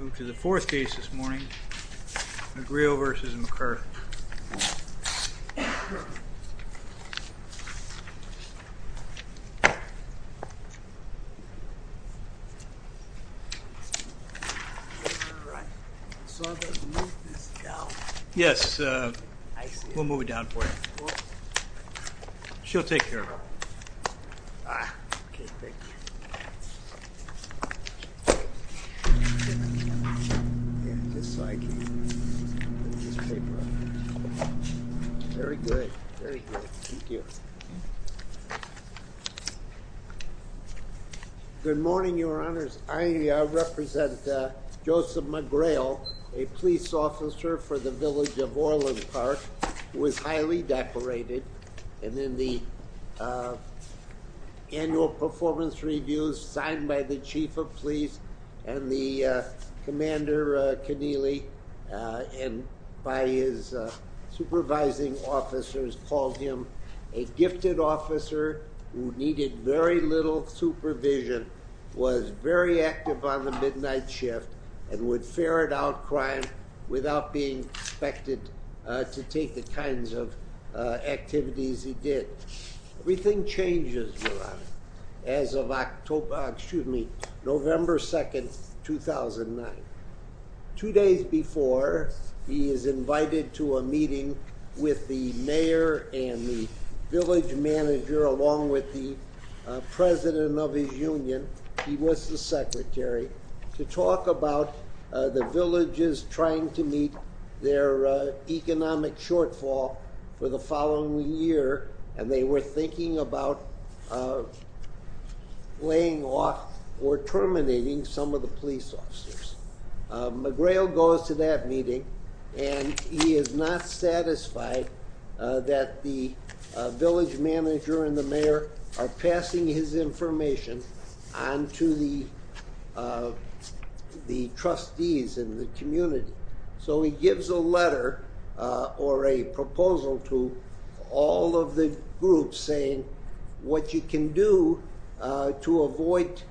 Move to the fourth case this morning. McGreal v. McCurth Yes, we'll move it down for you. She'll take care of it. Yeah, just so I can get this paper out. Very good, very good. Thank you. Good morning, your honors. I represent Joseph McGreal, a police officer for the village of Orland Park, who is highly decorated. And in the annual performance reviews signed by the chief of police and the commander, Keneally, and by his supervising officers called him a gifted officer who needed very little supervision, was very active on the midnight shift, and would ferret out crime without being expected to take the kinds of activities he did. Everything changes, your honor, as of October, excuse me, November 2nd, 2009. Two days before, he is invited to a meeting with the mayor and the village manager, along with the president of his union, he was the secretary, to talk about the villages trying to meet their economic shortfall for the following year, and they were thinking about laying off or terminating some of the police officers. McGreal goes to that meeting, and he is not satisfied that the village manager and the mayor are passing his information on to the trustees in the community. So he gives a letter or a proposal to all of the groups saying what you can do to avoid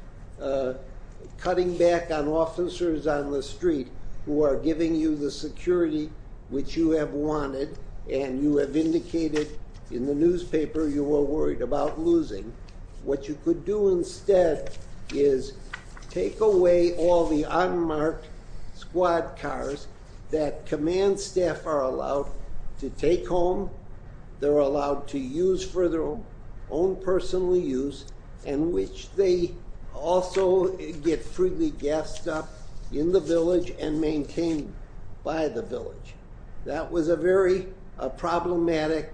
cutting back on officers on the street who are giving you the security which you have wanted, and you have indicated in the newspaper you were worried about losing. What you could do instead is take away all the unmarked squad cars that command staff are allowed to take home, they're allowed to use for their own personal use, and which they also get freely gassed up in the village and maintained by the village. That was a very problematic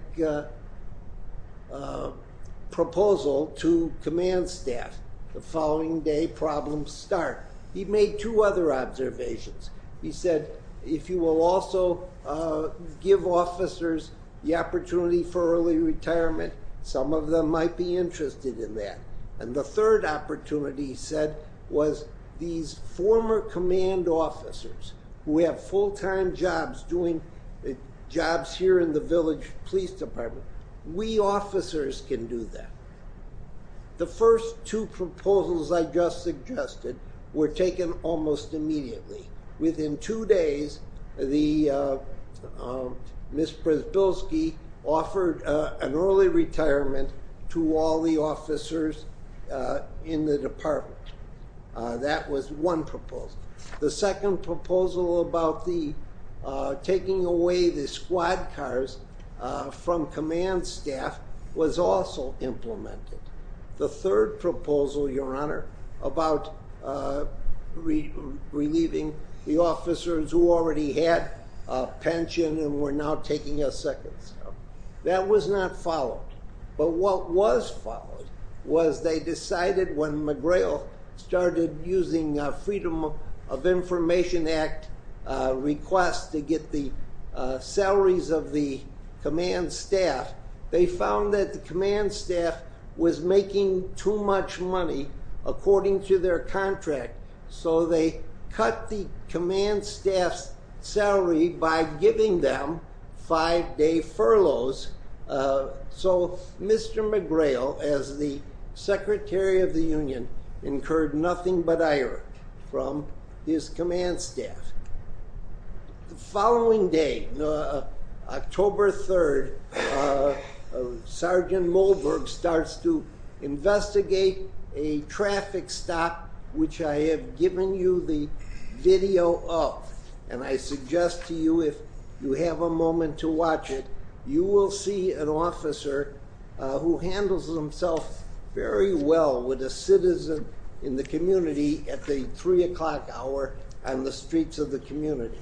proposal to command staff. The following day problems start. He made two other observations. He said if you will also give officers the opportunity for early retirement, some of them might be interested in that. And the third opportunity he said was these former command officers who have full-time jobs doing jobs here in the village police department, we officers can do that. The first two proposals I just suggested were taken almost immediately. Within two days, Ms. Brzezbilski offered an early retirement to all the officers in the department. That was one proposal. The second proposal about the taking away the squad cars from command staff was also implemented. The third proposal, Your Honor, about relieving the officers who already had a pension and were now taking a second step, that was not followed. But what was followed was they decided when McGrail started using Freedom of Information Act requests to get the salaries of the command staff, they found that the command staff was making too much money according to their contract. So they cut the command staff's salary by giving them five-day furloughs. So Mr. McGrail, as the Secretary of the Union, incurred nothing but ire from his command staff. The following day, October 3rd, Sergeant Mulberg starts to investigate a traffic stop, which I have given you the video of. And I suggest to you if you have a moment to watch it, you will see an officer who handles himself very well with a citizen in the community at the 3 o'clock hour on the streets of the community.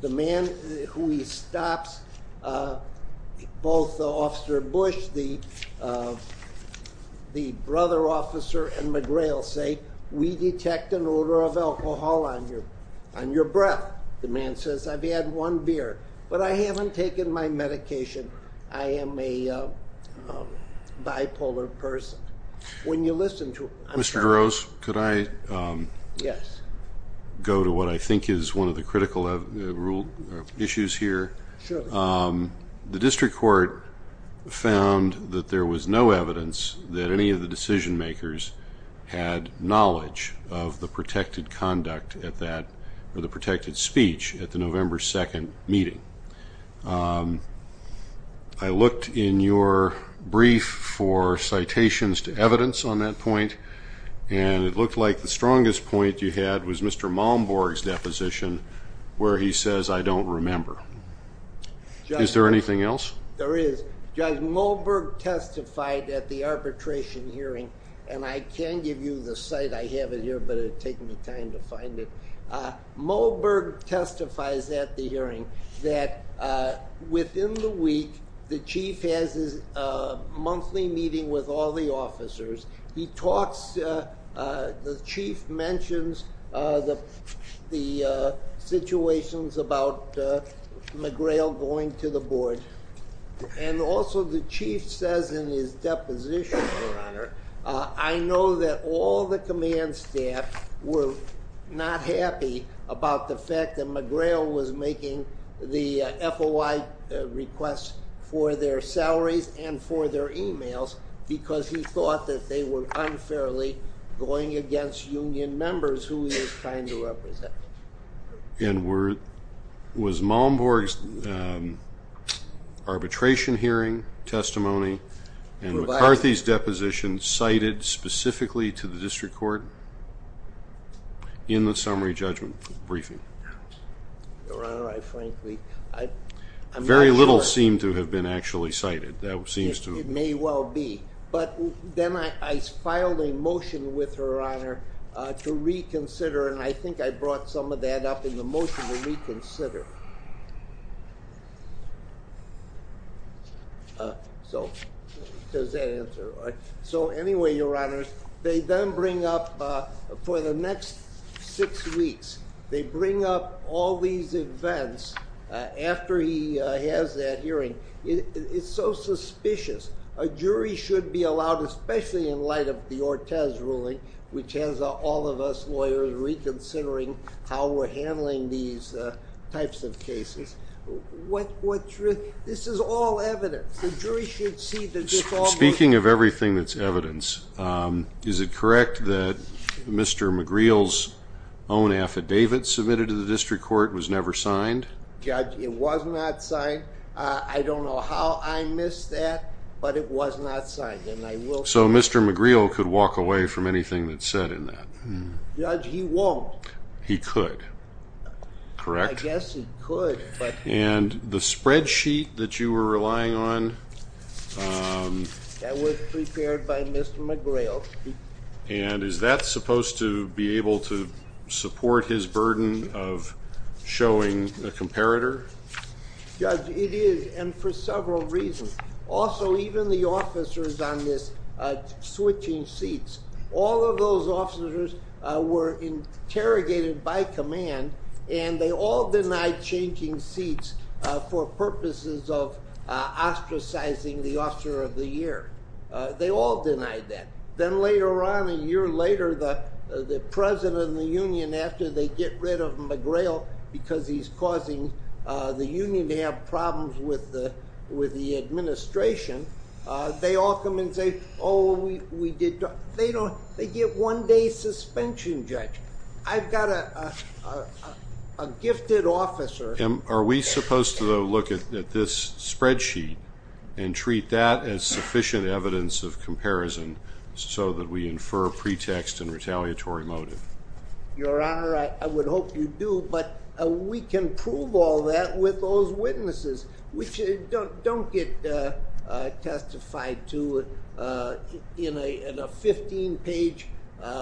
The man who he stops, both Officer Bush, the brother officer, and McGrail say, we detect an odor of alcohol on your breath. The man says, I've had one beer, but I haven't taken my medication. I am a bipolar person. Mr. Durose, could I go to what I think is one of the critical issues here? Sure. The district court found that there was no evidence that any of the decision makers had knowledge of the protected conduct at that, or the protected speech at the November 2nd meeting. I looked in your brief for citations to evidence on that point, and it looked like the strongest point you had was Mr. Malmborg's deposition, where he says, I don't remember. Is there anything else? There is. Judge Mulberg testified at the arbitration hearing, and I can give you the site. I have it here, but it would take me time to find it. Mulberg testifies at the hearing that within the week, the chief has his monthly meeting with all the officers. He talks, the chief mentions the situations about McGrail going to the board. Also, the chief says in his deposition, your honor, I know that all the command staff were not happy about the fact that McGrail was making the FOI requests for their salaries and for their emails, because he thought that they were unfairly going against union members who he was trying to represent. Was Malmborg's arbitration hearing testimony and McCarthy's deposition cited specifically to the district court in the summary judgment briefing? Your honor, I frankly, I'm not sure. Very little seemed to have been actually cited. It may well be. Then I filed a motion with her, your honor, to reconsider, and I think I brought some of that up in the motion to reconsider. Does that answer? Anyway, your honors, they then bring up, for the next six weeks, they bring up all these events after he has that hearing. It's so suspicious. A jury should be allowed, especially in light of the Ortez ruling, which has all of us lawyers reconsidering how we're handling these types of cases. This is all evidence. The jury should see that this all. Speaking of everything that's evidence, is it correct that Mr. McGrail's own affidavit submitted to the district court was never signed? Judge, it was not signed. I don't know how I missed that. But it was not signed. So Mr. McGrail could walk away from anything that's said in that? Judge, he won't. He could, correct? I guess he could. And the spreadsheet that you were relying on? That was prepared by Mr. McGrail. And is that supposed to be able to support his burden of showing a comparator? Judge, it is, and for several reasons. Also, even the officers on this switching seats, all of those officers were interrogated by command, and they all denied changing seats for purposes of ostracizing the officer of the year. They all denied that. Then later on, a year later, the president of the union, after they get rid of McGrail because he's causing the union to have problems with the administration, they all come and say, oh, we did. They don't. They get one-day suspension, Judge. I've got a gifted officer. Are we supposed to look at this spreadsheet and treat that as sufficient evidence of comparison so that we infer pretext and retaliatory motive? Your Honor, I would hope you do, but we can prove all that with those witnesses, which don't get testified to in a 15-page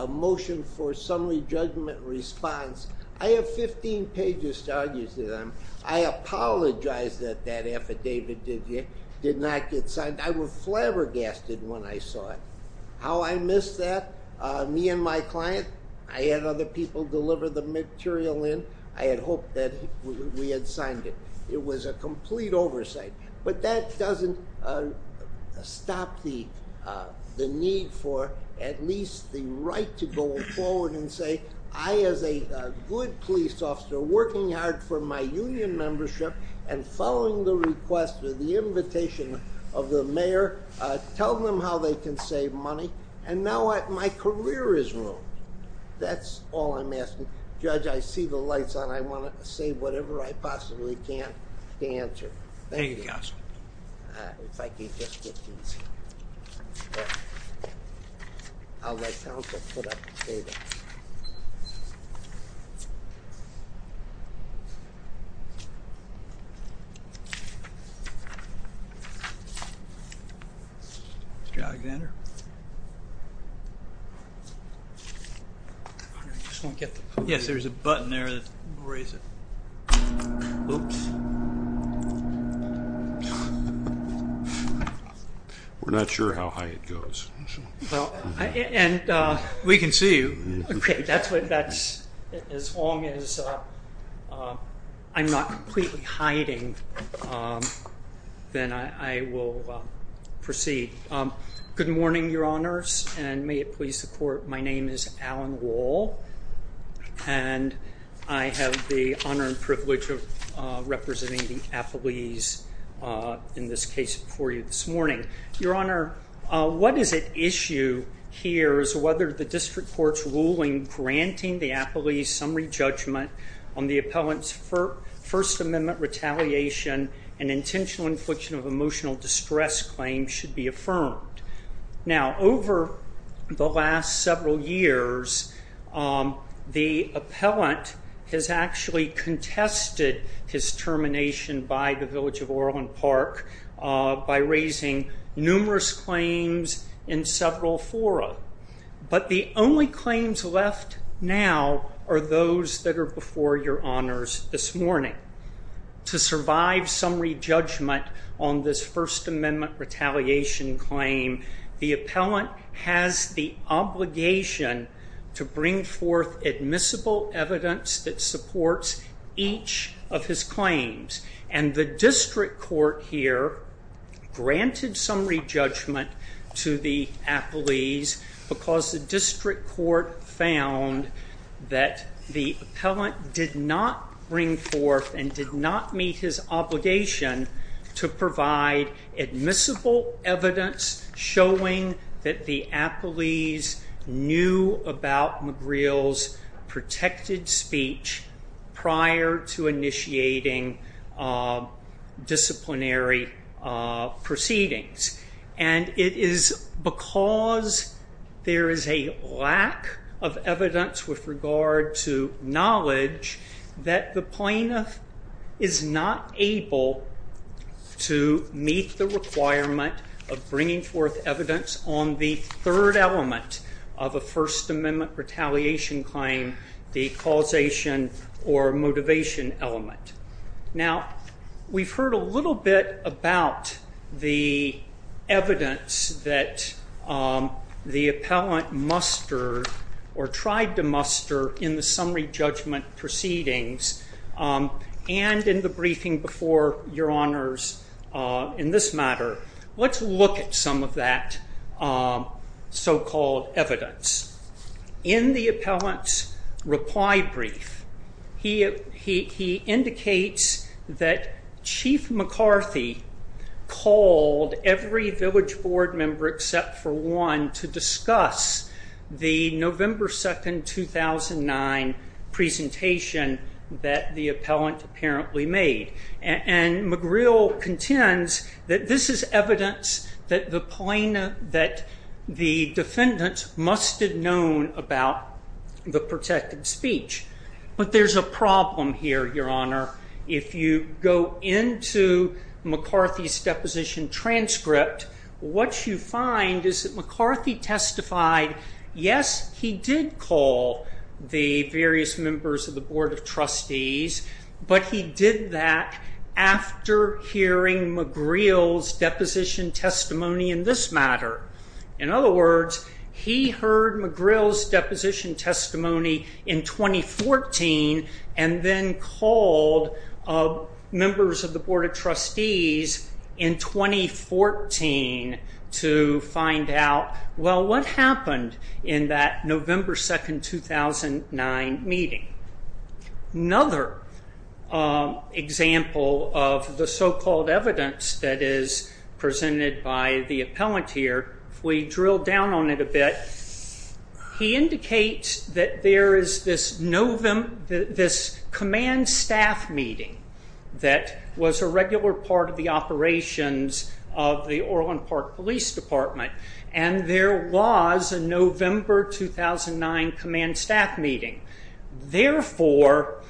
motion for summary judgment response. I have 15 pages to argue to them. I apologize that that affidavit did not get signed. I was flabbergasted when I saw it. How I missed that, me and my client, I had other people deliver the material in. I had hoped that we had signed it. It was a complete oversight. That doesn't stop the need for at least the right to go forward and say, I, as a good police officer, working hard for my union membership and following the request or the invitation of the mayor, tell them how they can save money, and now my career is ruined. That's all I'm asking. Judge, I see the lights on. I want to say whatever I possibly can to answer. Thank you, counsel. Mr. Alexander? Yes, there's a button there that will raise it. Oops. We're not sure how high it goes. We can see you. As long as I'm not completely hiding, then I will proceed. Good morning, your honors, and may it please the court. My name is Alan Wall, and I have the honor and privilege of representing the appellees in this case before you this morning. Your honor, what is at issue here is whether the district court's ruling granting the appellees summary judgment on the appellant's First Amendment retaliation and intentional infliction of emotional distress claim should be affirmed. Now, over the last several years, the appellant has actually contested his termination by the Village of Orland Park by raising numerous claims in several fora. But the only claims left now are those that are before your honors this morning. To survive summary judgment on this First Amendment retaliation claim, the appellant has the obligation to bring forth admissible evidence that supports each of his claims. And the district court here granted summary judgment to the appellees because the district court found that the appellant did not bring forth and did not meet his obligation to provide admissible evidence showing that the appellees knew about McGreal's protected speech prior to initiating disciplinary proceedings. And it is because there is a lack of evidence with regard to knowledge that the plaintiff is not able to meet the requirement of bringing forth evidence on the third element of a First Amendment retaliation claim, the causation or motivation element. Now, we've heard a little bit about the evidence that the appellant mustered or tried to muster in the summary judgment proceedings and in the briefing before your honors in this matter. Let's look at some of that so-called evidence. In the appellant's reply brief, he indicates that Chief McCarthy called every village board member except for one to discuss the November 2, 2009 presentation that the appellant apparently made. And McGreal contends that this is evidence that the defendant must have known about the protected speech. But there's a problem here, your honor. If you go into McCarthy's deposition transcript, what you find is that McCarthy testified, yes, he did call the various members of the Board of Trustees, but he did that after hearing McGreal's deposition testimony in this matter. In other words, he heard McGreal's deposition testimony in 2014 and then called members of the Board of Trustees in 2014 to find out, well, what happened in that November 2, 2009 meeting? Another example of the so-called evidence that is presented by the appellant here, if we drill down on it a bit, he indicates that there is this command staff meeting that was a regular part of the operations of the Orland Park Police Department. And there was a November 2009 command staff meeting. Therefore,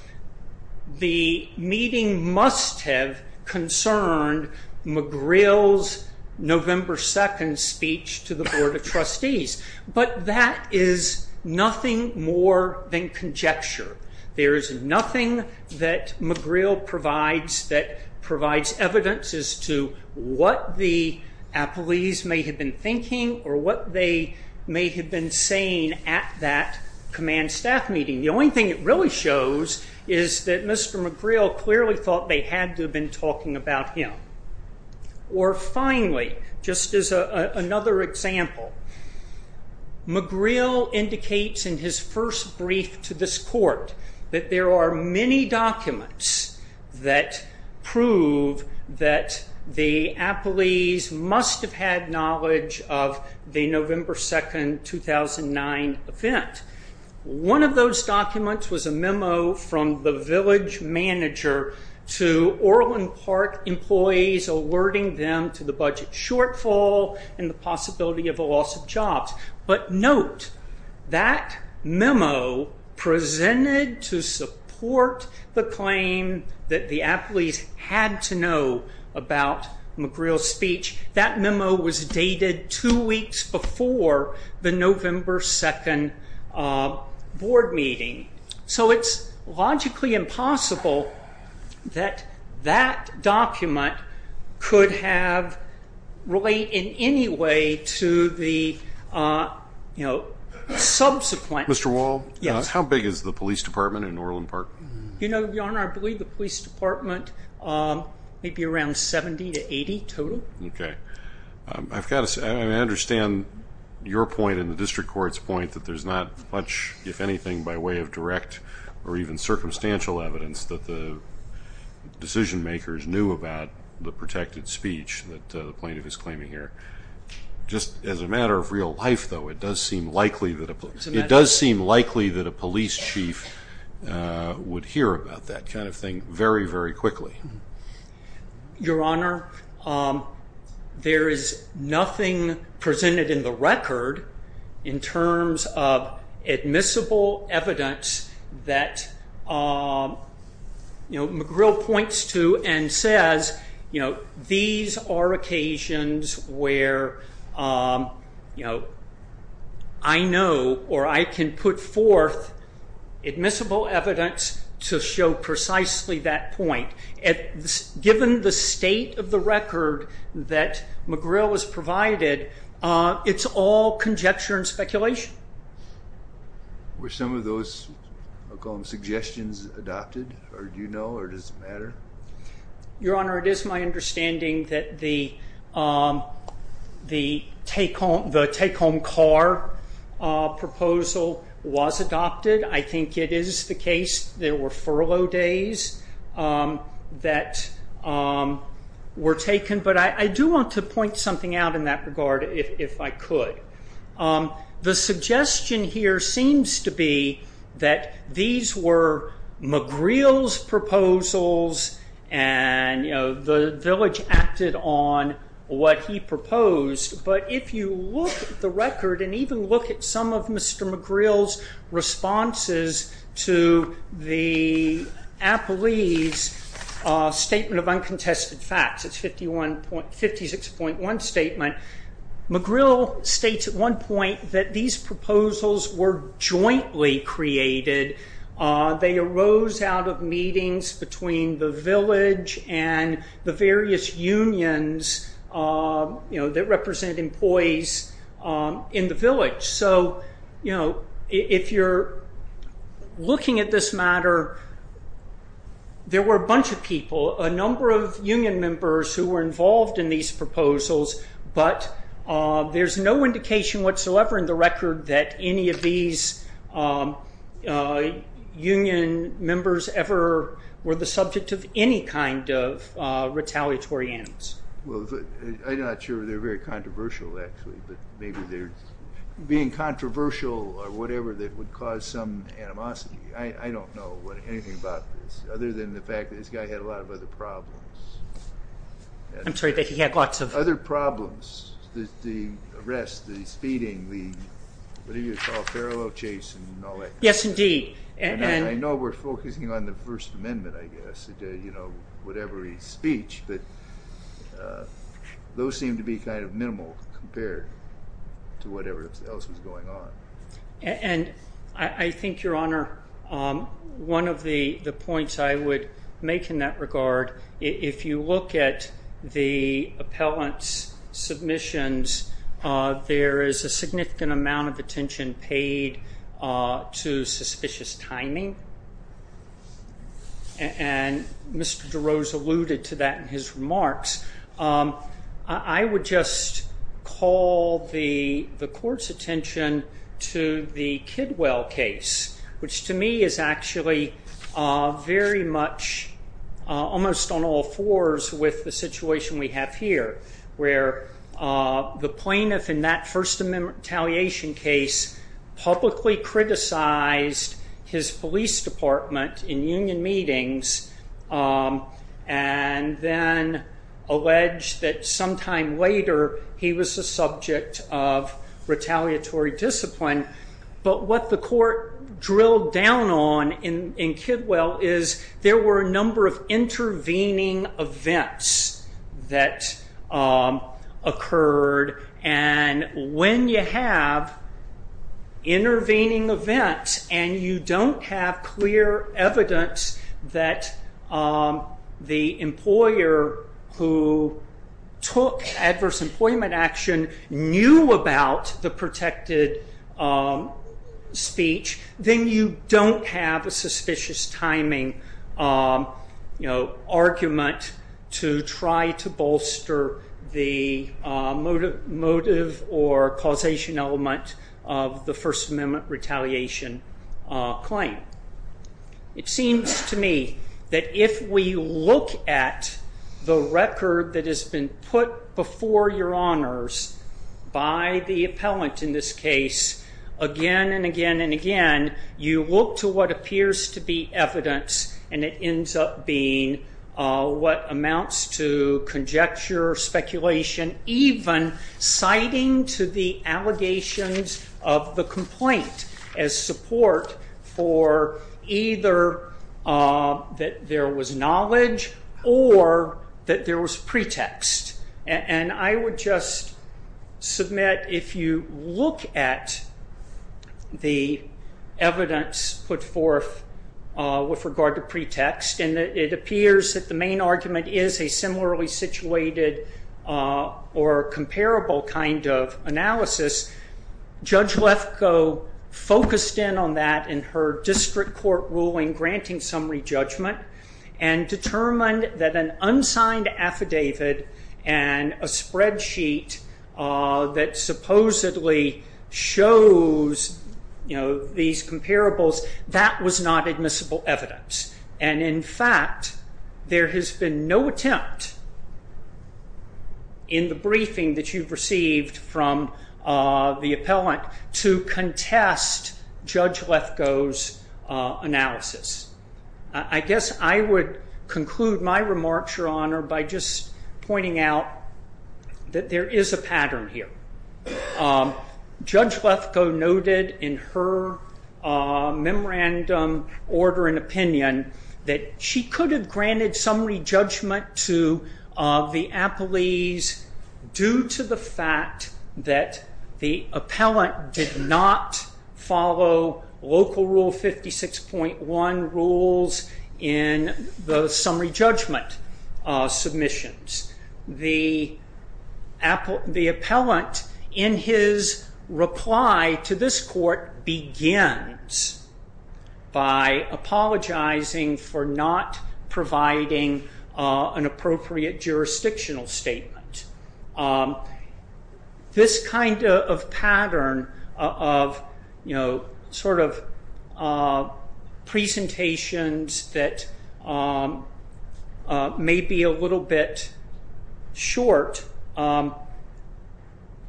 the meeting must have concerned McGreal's November 2, 2009 speech to the Board of Trustees. But that is nothing more than conjecture. There is nothing that McGreal provides that provides evidence as to what the appellees may have been thinking or what they may have been saying at that command staff meeting. The only thing it really shows is that Mr. McGreal clearly thought they had to have been talking about him. Or finally, just as another example, McGreal indicates in his first brief to this court that there are many documents that prove that the appellees must have had knowledge of the November 2, 2009 event. One of those documents was a memo from the village manager to Orland Park employees alerting them to the budget shortfall and the possibility of a loss of jobs. But note, that memo presented to support the claim that the appellees had to know about McGreal's speech. That memo was dated two weeks before the November 2 board meeting. So it's logically impossible that that document could have related in any way to the subsequent... Mr. Wall? Yes. How big is the police department in Orland Park? Your Honor, I believe the police department may be around 70 to 80 total. Okay. I understand your point and the district court's point that there's not much, if anything, by way of direct or even circumstantial evidence that the decision makers knew about the protected speech that the plaintiff is claiming here. Just as a matter of real life, though, it does seem likely that a police chief would hear about that kind of thing very, very quickly. Your Honor, there is nothing presented in the record in terms of admissible evidence that McGreal points to and says, these are occasions where I know or I can put forth admissible evidence to show precisely that point. Given the state of the record that McGreal has provided, it's all conjecture and speculation. Were some of those suggestions adopted, or do you know, or does it matter? Your Honor, it is my understanding that the take-home car proposal was adopted. I think it is the case there were furlough days that were taken, but I do want to point something out in that regard if I could. The suggestion here seems to be that these were McGreal's proposals and the village acted on what he proposed, but if you look at the record and even look at some of Mr. McGreal's responses to the Appellee's Statement of Uncontested Facts, it's 56.1 statement, McGreal states at one point that these proposals were jointly created. They arose out of meetings between the village and the various unions that represent employees in the village. If you're looking at this matter, there were a bunch of people, a number of union members who were involved in these proposals, but there's no indication whatsoever in the record that any of these union members ever were the subject of any kind of retaliatory actions. Well, I'm not sure they're very controversial actually, but maybe they're being controversial or whatever that would cause some animosity. I don't know anything about this other than the fact that this guy had a lot of other problems. I'm sorry, but he had lots of... Other problems, the arrest, the speeding, the what do you call it, furlough chase and all that. Yes, indeed. I know we're focusing on the First Amendment, I guess, whatever his speech, but those seem to be kind of minimal compared to whatever else was going on. I think, Your Honor, one of the points I would make in that regard, if you look at the appellant's submissions, there is a significant amount of attention paid to suspicious timing, and Mr. DeRose alluded to that in his remarks. I would just call the court's attention to the Kidwell case, which to me is actually very much almost on all fours with the situation we have here, where the plaintiff in that First Amendment retaliation case publicly criticized his police department in union meetings and then alleged that sometime later he was the subject of retaliatory discipline. What the court drilled down on in Kidwell is there were a number of intervening events that occurred. When you have intervening events and you don't have clear evidence that the employer who took adverse employment action knew about the protected speech, then you don't have a suspicious timing argument to try to bolster the motive or causation element of the First Amendment retaliation claim. It seems to me that if we look at the record that has been put before Your Honors by the appellant in this case, again and again and again, you look to what appears to be evidence and it ends up being what amounts to conjecture, speculation, even citing to the allegations of the complaint as support for either that there was knowledge or that there was pretext. I would just submit if you look at the evidence put forth with regard to pretext and it appears that the main argument is a similarly situated or comparable kind of analysis, Judge Lefkoe focused in on that in her district court ruling granting summary judgment and determined that an unsigned affidavit and a spreadsheet that supposedly shows these comparables, that was not admissible evidence. In fact, there has been no attempt in the briefing that you've received from the appellant to contest Judge Lefkoe's analysis. I guess I would conclude my remarks, Your Honor, by just pointing out that there is a pattern here. Judge Lefkoe noted in her memorandum order and opinion that she could have granted summary judgment to the appellees due to the fact that the appellant did not follow Local Rule 56.1 rules in the summary judgment submissions. The appellant, in his reply to this court, begins by apologizing for not providing an appropriate jurisdictional statement. This kind of pattern of presentations that may be a little bit short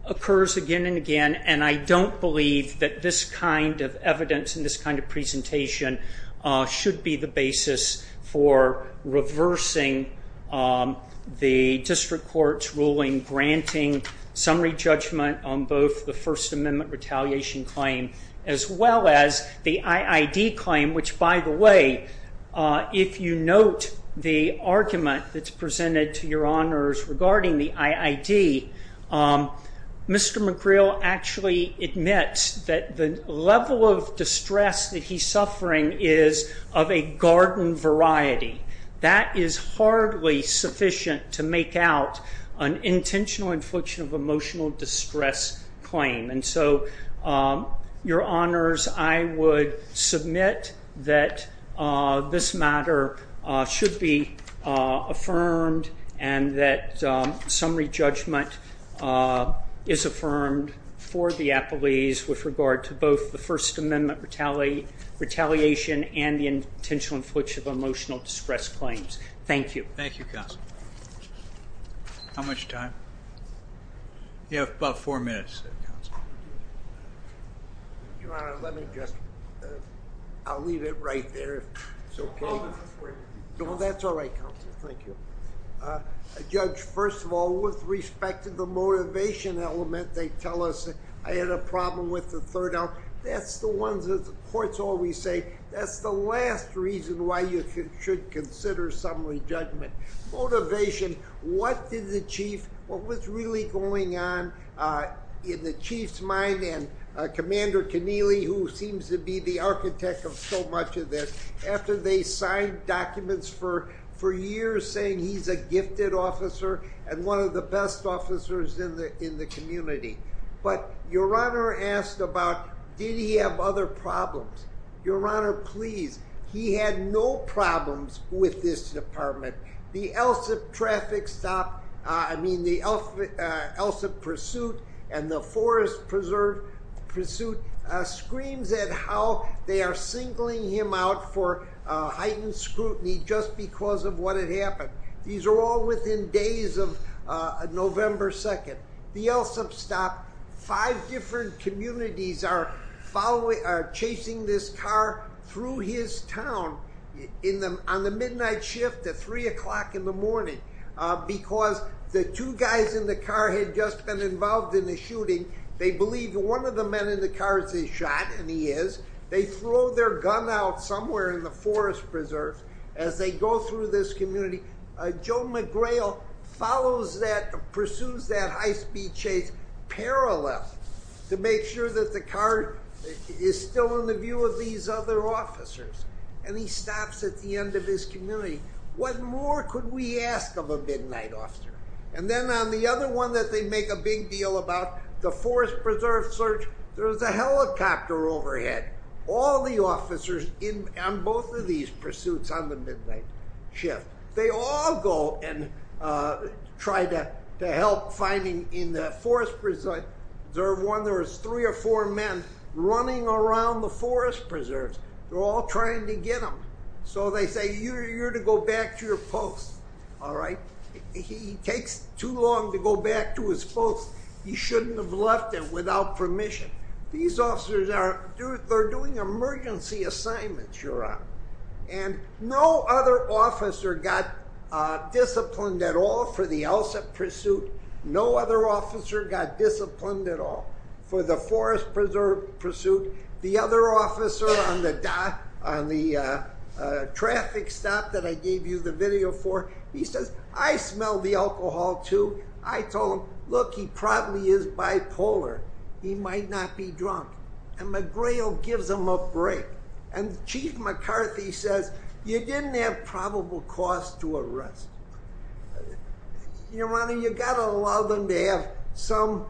occurs again and again and I don't believe that this kind of evidence and this kind of presentation should be the basis for reversing the district court's ruling granting summary judgment on both the First Amendment retaliation claim as well as the IID claim, which, by the way, if you note the argument that's presented to Your Honors regarding the IID, Mr. McGreal actually admits that the level of distress that he's suffering is of a garden variety. That is hardly sufficient to make out an intentional infliction of emotional distress claim. And so, Your Honors, I would submit that this matter should be affirmed and that summary judgment is affirmed for the appellees with regard to both the First Amendment retaliation and the intentional infliction of emotional distress claims. Thank you. Thank you, Counsel. How much time? You have about four minutes, Counsel. Your Honor, let me just, I'll leave it right there, if it's okay. No, that's all right, Counsel, thank you. Judge, first of all, with respect to the motivation element, they tell us I had a problem with the third element. That's the ones that the courts always say, that's the last reason why you should consider summary judgment. Motivation, what did the Chief, what was really going on in the Chief's mind and Commander Keneally, who seems to be the architect of so much of this, after they signed documents for years saying he's a gifted officer and one of the best officers in the community. But Your Honor asked about, did he have other problems? Your Honor, please, he had no problems with this department. The ELSIP traffic stop, I mean the ELSIP pursuit and the forest preserve pursuit, screams at how they are singling him out for heightened scrutiny just because of what had happened. These are all within days of November 2nd. The ELSIP stop, five different communities are chasing this car through his town on the midnight shift at 3 o'clock in the morning. Because the two guys in the car had just been involved in a shooting. They believe one of the men in the car is a shot, and he is. They throw their gun out somewhere in the forest preserve as they go through this community. Joe McGrail pursues that high-speed chase parallel to make sure that the car is still in the view of these other officers. And he stops at the end of his community. What more could we ask of a midnight officer? And then on the other one that they make a big deal about, the forest preserve search, there's a helicopter overhead. All the officers on both of these pursuits on the midnight shift. They all go and try to help finding in the forest preserve one. There was three or four men running around the forest preserves. They're all trying to get him. So they say, you're to go back to your post, all right? He takes too long to go back to his post. He shouldn't have left it without permission. These officers are doing emergency assignments, Your Honor. And no other officer got disciplined at all for the ELSA pursuit. No other officer got disciplined at all for the forest preserve pursuit. The other officer on the traffic stop that I gave you the video for, he says, I smelled the alcohol too. I told him, look, he probably is bipolar. He might not be drunk. And McGrail gives him a break. And Chief McCarthy says, you didn't have probable cause to arrest. Your Honor, you've got to allow them to have some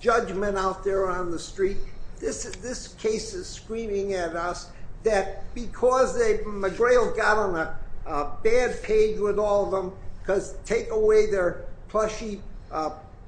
judgment out there on the street. This case is screaming at us that because McGrail got on a bad page with all of them, because take away their plushy,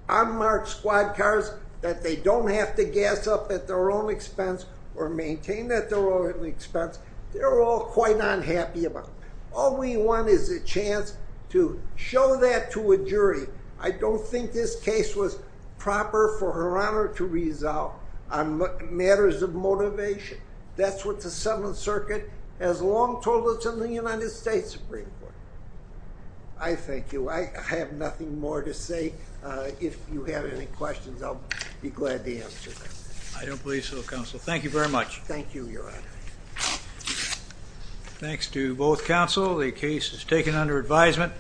unmarked squad cars, that they don't have to gas up at their own expense or maintain at their own expense. They're all quite unhappy about it. All we want is a chance to show that to a jury. I don't think this case was proper for Her Honor to resolve on matters of motivation. That's what the Seventh Circuit has long told us in the United States Supreme Court. I thank you. I have nothing more to say. If you have any questions, I'll be glad to answer them. I don't believe so, Counsel. Thank you very much. Thank you, Your Honor. Thanks to both counsel. The case is taken under advisement.